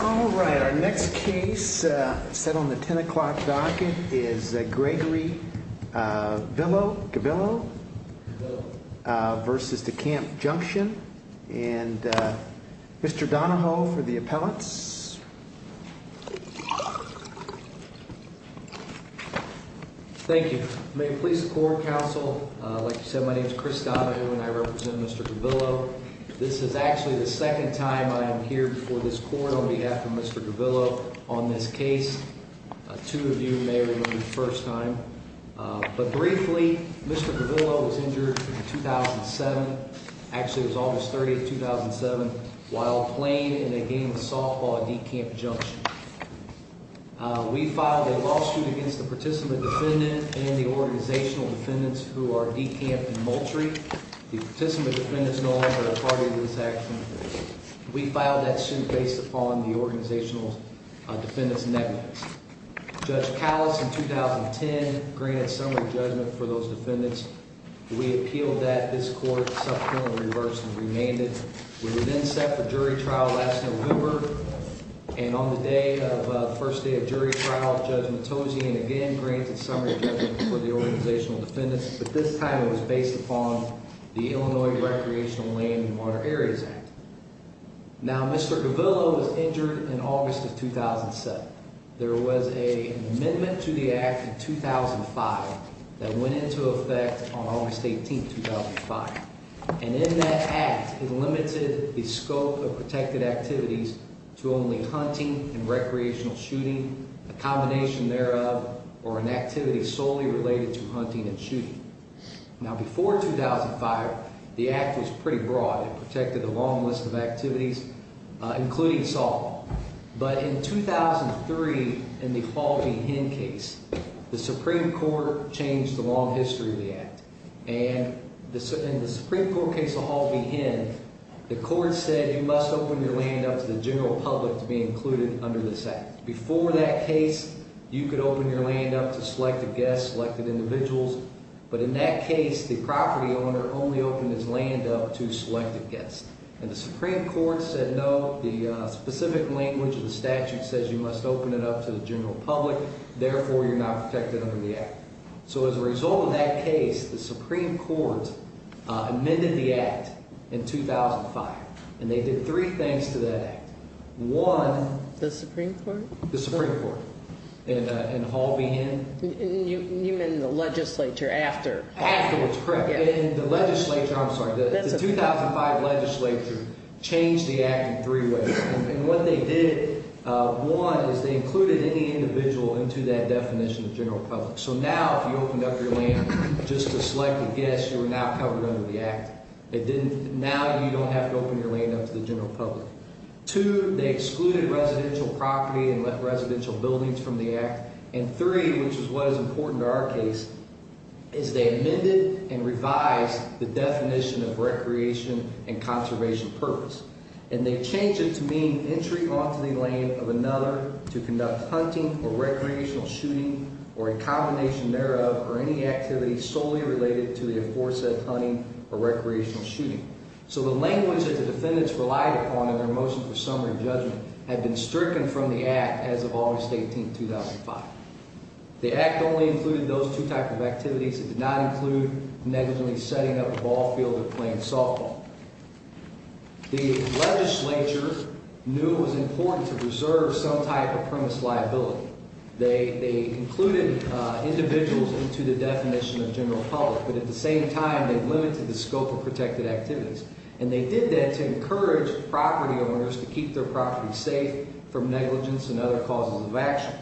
Alright, our next case set on the 10 o'clock docket is Gregory Gvillo v. DeCamp Junction. And Mr. Donahoe for the appellants. Thank you. May it please the Court of Counsel, like you said, my name is Chris Donahoe and I represent Mr. Gvillo. This is actually the second time I am here before this Court on behalf of Mr. Gvillo on this case. Two of you may remember the first time. But briefly, Mr. Gvillo was injured in 2007, actually it was August 30, 2007, while playing in a game of softball at DeCamp Junction. We filed a lawsuit against the participant defendant and the organizational defendants who are DeCamp and Moultrie. The participant defendant is no longer a party to this action. We filed that suit based upon the organizational defendants' negligence. Judge Callas in 2010 granted summary judgment for those defendants. We appealed that. This Court subsequently reversed and remained it. We were then set for jury trial last November. And on the day of the first day of jury trial, Judge Matozzi again granted summary judgment for the organizational defendants. But this time it was based upon the Illinois Recreational Land and Water Areas Act. Now, Mr. Gvillo was injured in August of 2007. There was an amendment to the act in 2005 that went into effect on August 18, 2005. And in that act, it limited the scope of protected activities to only hunting and recreational shooting, a combination thereof, or an activity solely related to hunting and shooting. Now, before 2005, the act was pretty broad. It protected a long list of activities, including softball. But in 2003, in the Hall v. Hinn case, the Supreme Court changed the long history of the act. And in the Supreme Court case of Hall v. Hinn, the court said you must open your land up to the general public to be included under this act. Before that case, you could open your land up to selected guests, selected individuals. But in that case, the property owner only opened his land up to selected guests. And the Supreme Court said no. The specific language of the statute says you must open it up to the general public. Therefore, you're not protected under the act. So as a result of that case, the Supreme Court amended the act in 2005. And they did three things to that act. One— The Supreme Court? The Supreme Court and Hall v. Hinn. You mean the legislature after? After, that's correct. And the legislature—I'm sorry, the 2005 legislature changed the act in three ways. And what they did, one, is they included any individual into that definition of general public. So now if you opened up your land just to selected guests, you are now covered under the act. Now you don't have to open your land up to the general public. Two, they excluded residential property and residential buildings from the act. And three, which is what is important to our case, is they amended and revised the definition of recreation and conservation purpose. And they changed it to mean entry onto the land of another to conduct hunting or recreational shooting or a combination thereof or any activity solely related to the aforesaid hunting or recreational shooting. So the language that the defendants relied upon in their motion for summary judgment had been stricken from the act as of August 18, 2005. The act only included those two types of activities. It did not include negligently setting up a ball field or playing softball. The legislature knew it was important to preserve some type of premise liability. They included individuals into the definition of general public, but at the same time they limited the scope of protected activities. And they did that to encourage property owners to keep their property safe from negligence and other causes of action.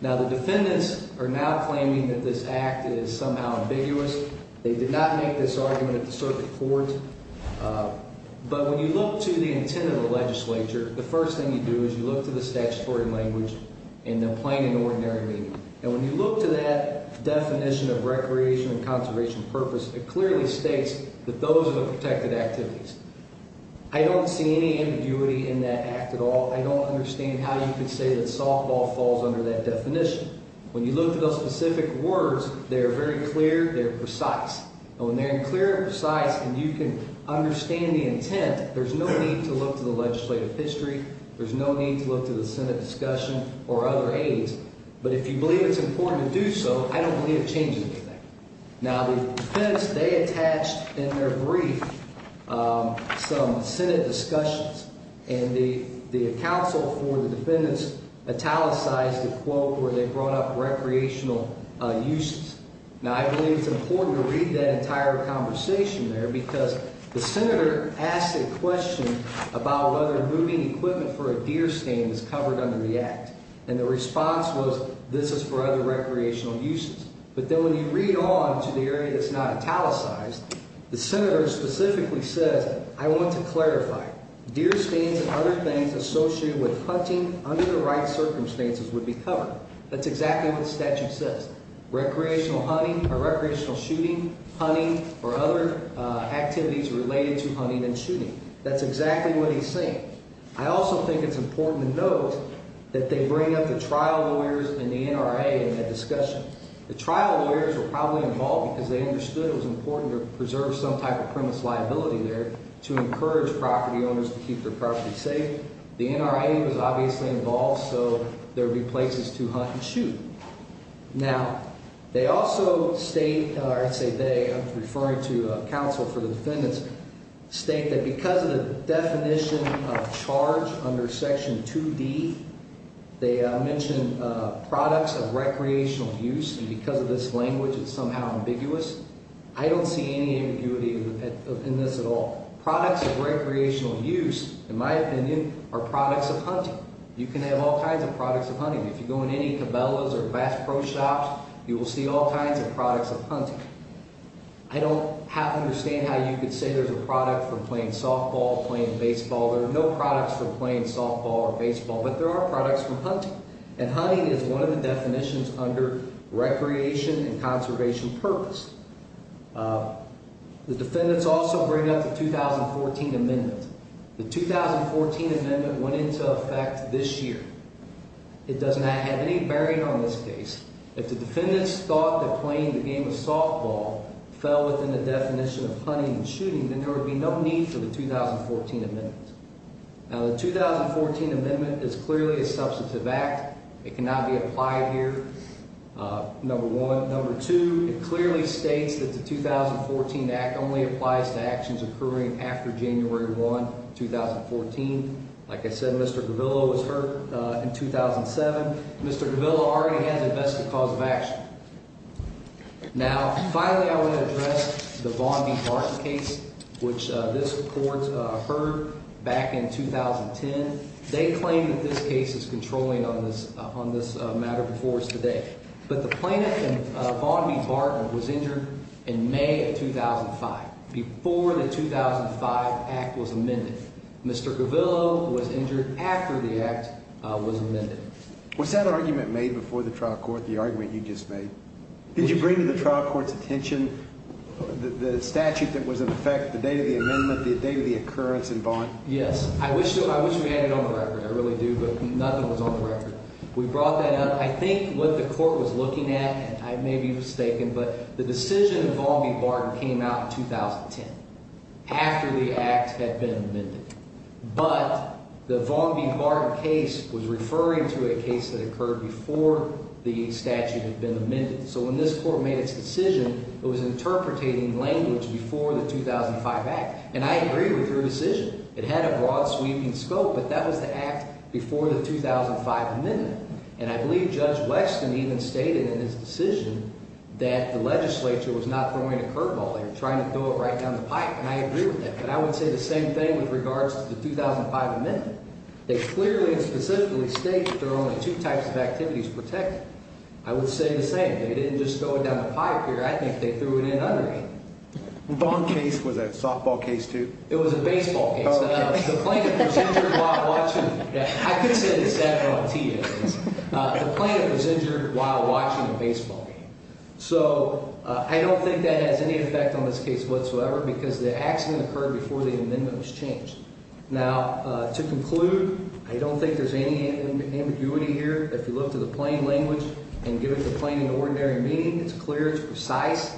Now the defendants are now claiming that this act is somehow ambiguous. They did not make this argument at the circuit court. But when you look to the intent of the legislature, the first thing you do is you look to the statutory language in the plain and ordinary meaning. And when you look to that definition of recreation and conservation purpose, it clearly states that those are the protected activities. I don't see any ambiguity in that act at all. I don't understand how you could say that softball falls under that definition. When you look at those specific words, they're very clear, they're precise. And when they're clear and precise and you can understand the intent, there's no need to look to the legislative history. There's no need to look to the Senate discussion or other aides. But if you believe it's important to do so, I don't believe it changes anything. Now the defendants, they attached in their brief some Senate discussions. And the counsel for the defendants italicized a quote where they brought up recreational uses. Now I believe it's important to read that entire conversation there because the senator asked a question about whether moving equipment for a deer stand is covered under the act. And the response was this is for other recreational uses. But then when you read on to the area that's not italicized, the senator specifically says I want to clarify. Deer stands and other things associated with hunting under the right circumstances would be covered. That's exactly what the statute says. Recreational hunting or recreational shooting, hunting or other activities related to hunting and shooting. That's exactly what he's saying. I also think it's important to note that they bring up the trial lawyers and the NRA in that discussion. The trial lawyers were probably involved because they understood it was important to preserve some type of premise liability there to encourage property owners to keep their property safe. The NRA was obviously involved so there would be places to hunt and shoot. Now, they also state or I say they, I'm referring to counsel for the defendants, state that because of the definition of charge under section 2D, they mention products of recreational use. And because of this language, it's somehow ambiguous. I don't see any ambiguity in this at all. Products of recreational use, in my opinion, are products of hunting. If you go in any Cabela's or Bass Pro Shops, you will see all kinds of products of hunting. I don't understand how you could say there's a product for playing softball, playing baseball. There are no products for playing softball or baseball, but there are products for hunting. And hunting is one of the definitions under recreation and conservation purpose. The defendants also bring up the 2014 amendment. The 2014 amendment went into effect this year. It does not have any bearing on this case. If the defendants thought that playing the game of softball fell within the definition of hunting and shooting, then there would be no need for the 2014 amendment. Now, the 2014 amendment is clearly a substantive act. It cannot be applied here, number one. Number two, it clearly states that the 2014 act only applies to actions occurring after January 1, 2014. Like I said, Mr. Gavillo was hurt in 2007. Mr. Gavillo already has a vested cause of action. Now, finally, I would address the Vaughn v. Barton case, which this court heard back in 2010. They claim that this case is controlling on this matter before us today. But the plaintiff in Vaughn v. Barton was injured in May of 2005, before the 2005 act was amended. Mr. Gavillo was injured after the act was amended. Was that argument made before the trial court, the argument you just made? Did you bring to the trial court's attention the statute that was in effect the day of the amendment, the day of the occurrence in Vaughn? Yes. I wish we had it on the record. I really do, but nothing was on the record. We brought that up. I think what the court was looking at, and I may be mistaken, but the decision of Vaughn v. Barton came out in 2010, after the act had been amended. But the Vaughn v. Barton case was referring to a case that occurred before the statute had been amended. So when this court made its decision, it was interpreting language before the 2005 act. And I agree with your decision. It had a broad sweeping scope, but that was the act before the 2005 amendment. And I believe Judge Weston even stated in his decision that the legislature was not throwing a curve ball here, trying to throw it right down the pipe. And I agree with that. But I would say the same thing with regards to the 2005 amendment. It clearly and specifically states that there are only two types of activities protected. I would say the same. They didn't just throw it down the pipe here. I think they threw it in under it. The Vaughn case was a softball case, too? It was a baseball case. Oh, okay. The plaintiff was injured while watching. I could say this after I'm tea, at least. The plaintiff was injured while watching a baseball game. So I don't think that has any effect on this case whatsoever because the accident occurred before the amendment was changed. Now, to conclude, I don't think there's any ambiguity here. If you look to the plain language and give it the plain and ordinary meaning, it's clear, it's precise.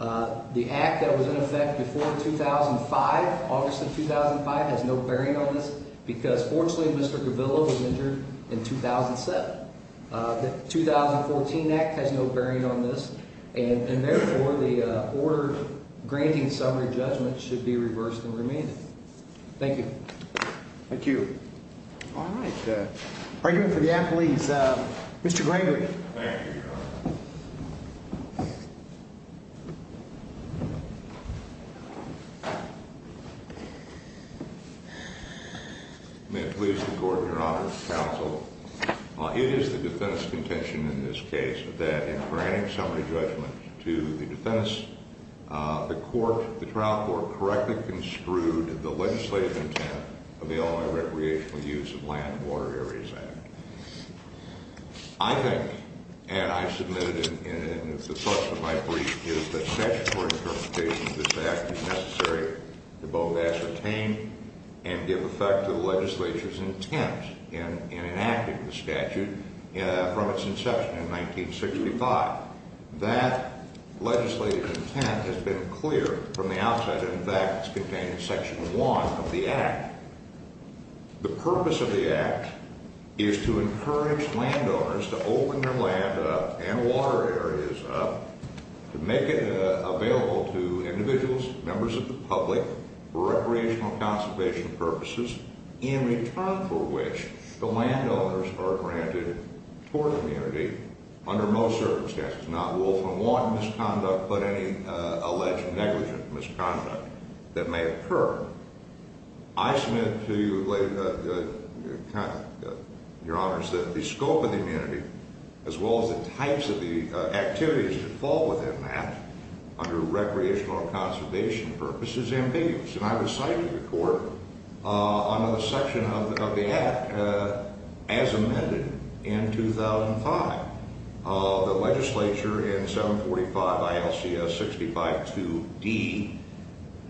The act that was in effect before 2005, August of 2005, has no bearing on this because, fortunately, Mr. Gavillo was injured in 2007. The 2014 act has no bearing on this, and, therefore, the order granting summary judgment should be reversed and remanded. Thank you. Thank you. All right. Argument for the appellees. Mr. Grangley. Thank you, Your Honor. May it please the Court, Your Honor, counsel, it is the defense's contention in this case that in granting summary judgment to the defense, the trial court correctly construed the legislative intent of the Illinois Recreational Use of Land and Water Areas Act. I think, and I submitted in the source of my brief, is that statutory interpretation of this act is necessary to both ascertain and give effect to the legislature's intent in enacting the statute from its inception in 1965. That legislative intent has been clear from the outset. In fact, it's contained in Section 1 of the act. The purpose of the act is to encourage landowners to open their land up and water areas up, to make it available to individuals, members of the public, for recreational and conservation purposes, in return for which the landowners are granted tour community under most circumstances, not wolf and want misconduct, but any alleged negligent misconduct that may occur. I submit to you, Your Honors, that the scope of the amenity, as well as the types of the activities that fall within that, under recreational and conservation purposes, is ambiguous. And I was cited to the Court under the section of the act as amended in 2005. The legislature in 745 ILCS 652D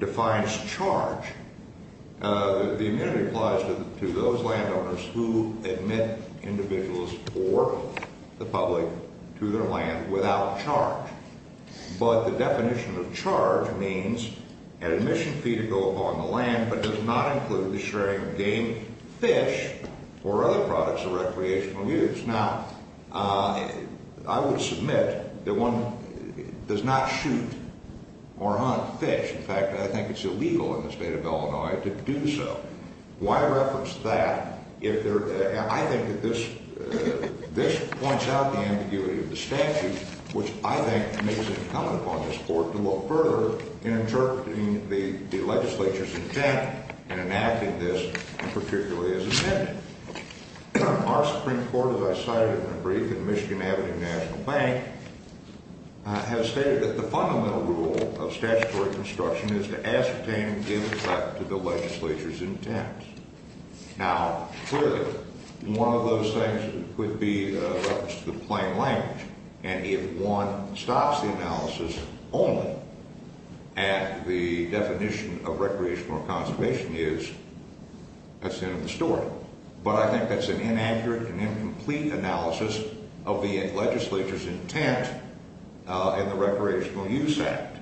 defines charge. The amenity applies to those landowners who admit individuals or the public to their land without charge. But the definition of charge means an admission fee to go upon the land, but does not include the sharing of game, fish, or other products of recreational use. Now, I would submit that one does not shoot or hunt fish. In fact, I think it's illegal in the state of Illinois to do so. Why reference that if there – I think that this points out the ambiguity of the statute, which I think makes it incumbent upon this Court to look further in interpreting the legislature's intent in enacting this, particularly as amended. Our Supreme Court, as I cited in a brief in the Michigan Avenue National Bank, has stated that the fundamental rule of statutory construction is to ascertain and give effect to the legislature's intent. Now, clearly, one of those things would be a reference to the plain language. And if one stops the analysis only at the definition of recreational or conservation use, that's the end of the story. But I think that's an inaccurate and incomplete analysis of the legislature's intent in the Recreational Use Act.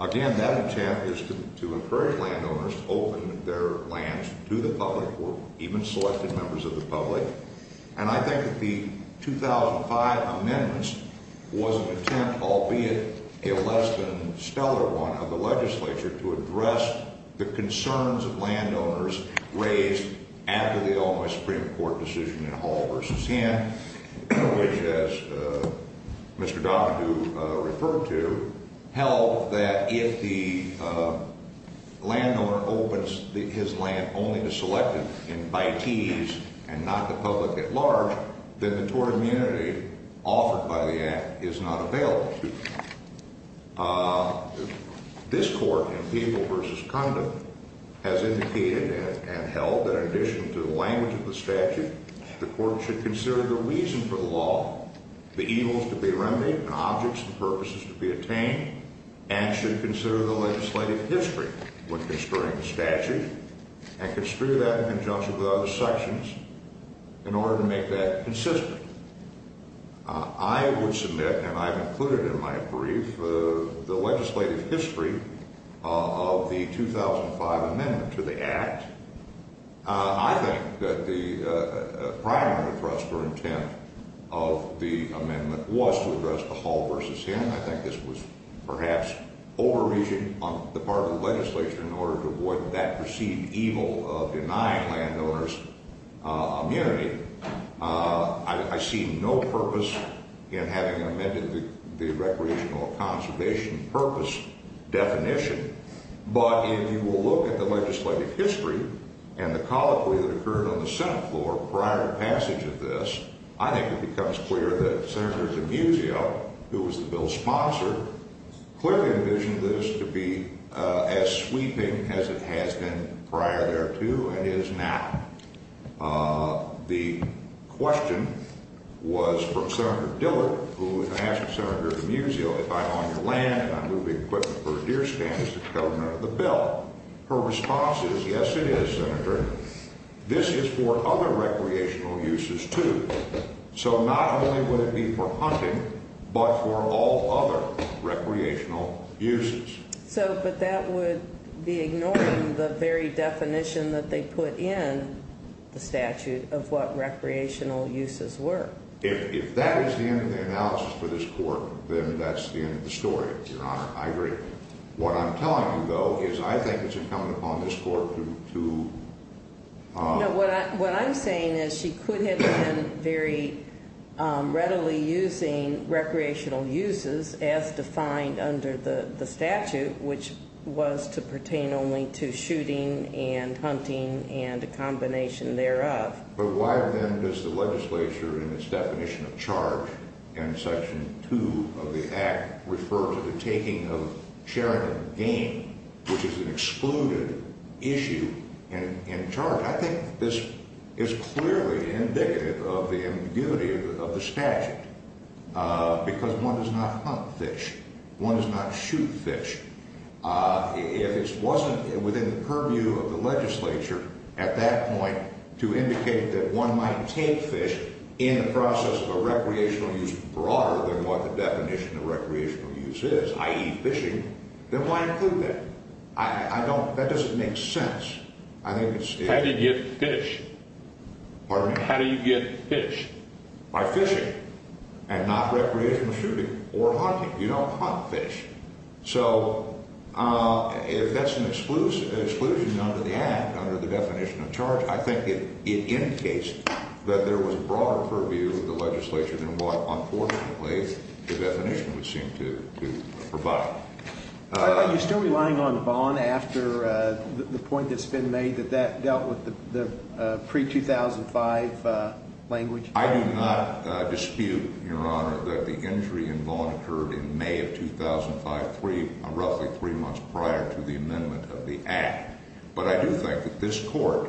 Again, that intent is to encourage landowners to open their lands to the public or even selected members of the public. And I think that the 2005 amendments was an attempt, albeit a less than stellar one, of the legislature to address the concerns of landowners raised after the Illinois Supreme Court decision in Hall v. Hinn, which, as Mr. Donahue referred to, held that if the landowner opens his land only to selected and by tees and not the public at large, then the tort immunity offered by the Act is not available. This Court, in People v. Conduct, has indicated and held that in addition to the language of the statute, the Court should consider the reason for the law, the evils to be remedied and objects and purposes to be attained, and should consider the legislative history when considering the statute and construe that in conjunction with other sections in order to make that consistent. I would submit, and I've included in my brief, the legislative history of the 2005 amendment to the Act. I think that the primary thrust or intent of the amendment was to address the Hall v. Hinn. I think this was perhaps overreaching on the part of the legislature in order to avoid that perceived evil of denying landowners immunity. I see no purpose in having amended the recreational conservation purpose definition, but if you will look at the legislative history and the colloquy that occurred on the Senate floor prior to passage of this, I think it becomes clear that Senator DiMuzio, who was the bill's sponsor, clearly envisioned this to be as sweeping as it has been prior thereto and is now. The question was from Senator Dillard, who asked Senator DiMuzio, if I own your land and I'm moving equipment for a deer stand, is this covered under the bill? Her response is, yes, it is, Senator. This is for other recreational uses, too. So not only would it be for hunting, but for all other recreational uses. But that would be ignoring the very definition that they put in the statute of what recreational uses were. If that is the end of the analysis for this court, then that's the end of the story, Your Honor. I agree. What I'm telling you, though, is I think it's incumbent upon this court to... No, what I'm saying is she could have been very readily using recreational uses as defined under the statute, which was to pertain only to shooting and hunting and a combination thereof. But why then does the legislature, in its definition of charge in Section 2 of the Act, refer to the taking of charitable gain, which is an excluded issue in charge? I think this is clearly indicative of the ambiguity of the statute, because one does not hunt fish. One does not shoot fish. If it wasn't within the purview of the legislature at that point to indicate that one might take fish in the process of a recreational use broader than what the definition of recreational use is, i.e. fishing, then why include that? That doesn't make sense. How do you get fish? Pardon me? How do you get fish? By fishing and not recreational shooting or hunting. You don't hunt fish. So if that's an exclusion under the Act, under the definition of charge, I think it indicates that there was a broader purview of the legislature than what, unfortunately, the definition would seem to provide. Are you still relying on bond after the point that's been made that that dealt with the pre-2005 language? I do not dispute, Your Honor, that the injury in bond occurred in May of 2005, roughly three months prior to the amendment of the Act. But I do think that this Court,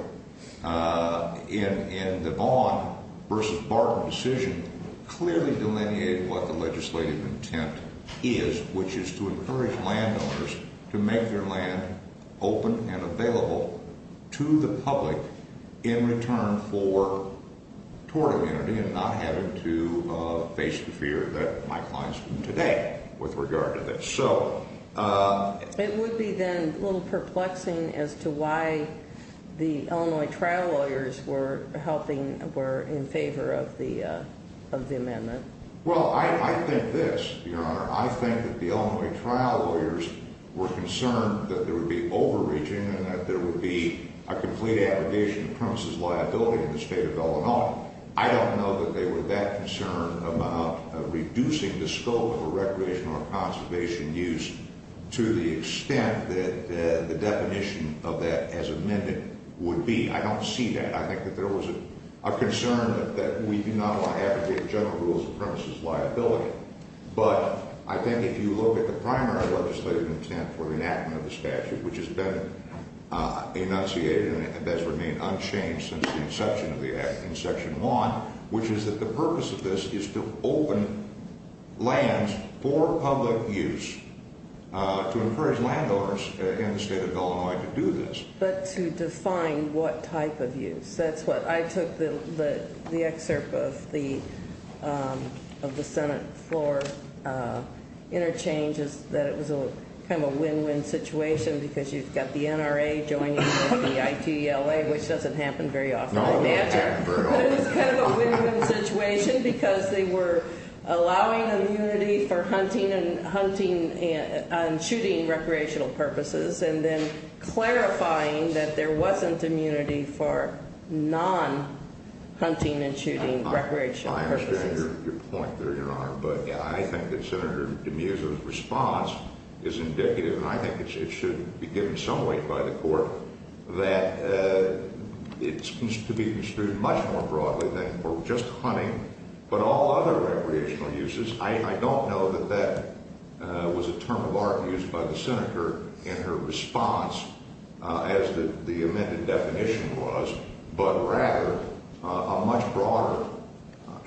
in the bond versus bargain decision, clearly delineated what the legislative intent is, which is to encourage landowners to make their land open and available to the public in return for tort immunity and not having to face the fear that Mike Lyons would today with regard to this. It would be then a little perplexing as to why the Illinois trial lawyers were in favor of the amendment. Well, I think this, Your Honor. I think that the Illinois trial lawyers were concerned that there would be overreaching and that there would be a complete abrogation of premises liability in the state of Illinois. I don't know that they were that concerned about reducing the scope of a recreational or conservation use to the extent that the definition of that as amended would be. I don't see that. I think that there was a concern that we do not want to abrogate general rules of premises liability. But I think if you look at the primary legislative intent for the enactment of the statute, which has been enunciated and has remained unchanged since the inception of the Act in Section 1, which is that the purpose of this is to open lands for public use, to encourage landowners in the state of Illinois to do this. But to define what type of use. I took the excerpt of the Senate floor interchanges that it was kind of a win-win situation because you've got the NRA joining with the ITLA, which doesn't happen very often. No, it doesn't happen very often. But it was kind of a win-win situation because they were allowing immunity for hunting and shooting recreational purposes and then clarifying that there wasn't immunity for non-hunting and shooting recreational purposes. I understand your point, Your Honor. But I think that Senator Demuse's response is indicative, and I think it should be given some weight by the court, that it's to be construed much more broadly than for just hunting but all other recreational uses. I don't know that that was a term of art used by the Senator in her response as the amended definition was, but rather a much broader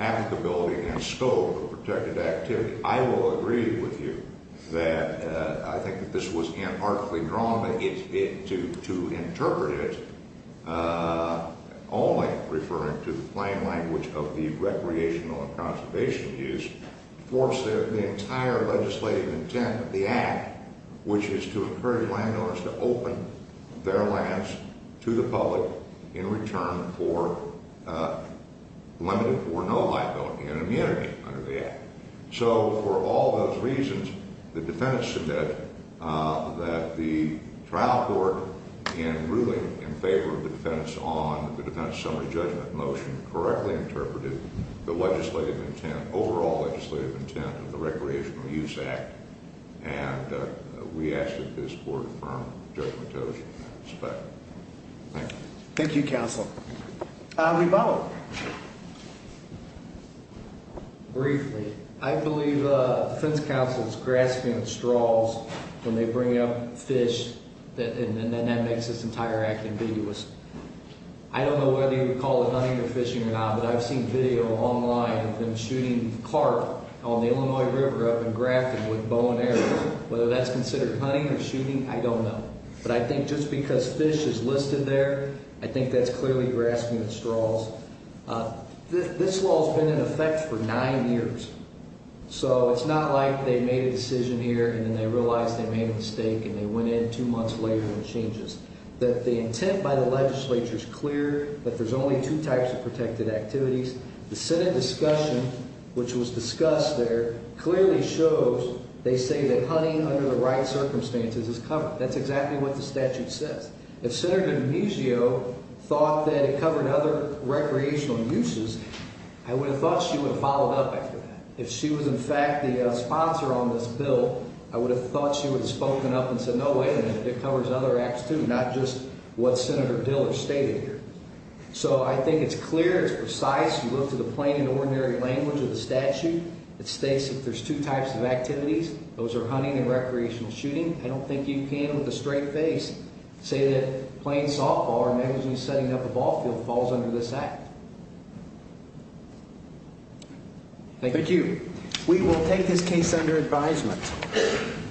applicability and scope of protected activity. I will agree with you that I think that this was artfully drawn to interpret it only referring to the plain language of the recreational and conservation use, force the entire legislative intent of the Act, which is to encourage landowners to open their lands to the public in return for limited or no liability and immunity under the Act. So for all those reasons, the defendants submit that the trial court in ruling in favor of the defendants on the defendant's summary judgment motion correctly interpreted the legislative intent, overall legislative intent of the Recreational Use Act, and we ask that this court affirm the judgment in that respect. Thank you. Thank you, Counsel. We vote. Briefly. I believe the defense counsel is grasping at straws when they bring up fish, and then that makes this entire act ambiguous. I don't know whether you would call it hunting or fishing or not, but I've seen video online of them shooting carp on the Illinois River up in Grafton with bow and arrows. Whether that's considered hunting or shooting, I don't know. But I think just because fish is listed there, I think that's clearly grasping at straws. This law has been in effect for nine years. So it's not like they made a decision here and then they realized they made a mistake and they went in two months later and it changes. The intent by the legislature is clear that there's only two types of protected activities. The Senate discussion, which was discussed there, clearly shows they say that hunting under the right circumstances is covered. That's exactly what the statute says. If Senator D'Amico thought that it covered other recreational uses, I would have thought she would have followed up after that. If she was, in fact, the sponsor on this bill, I would have thought she would have spoken up and said, no, wait a minute, it covers other acts too, not just what Senator Dillard stated here. So I think it's clear, it's precise. You look to the plain and ordinary language of the statute. It states that there's two types of activities. Those are hunting and recreational shooting. I don't think you can, with a straight face, say that playing softball or negligently setting up a ball field falls under this act. Thank you. Thank you. We will take this case under advisement.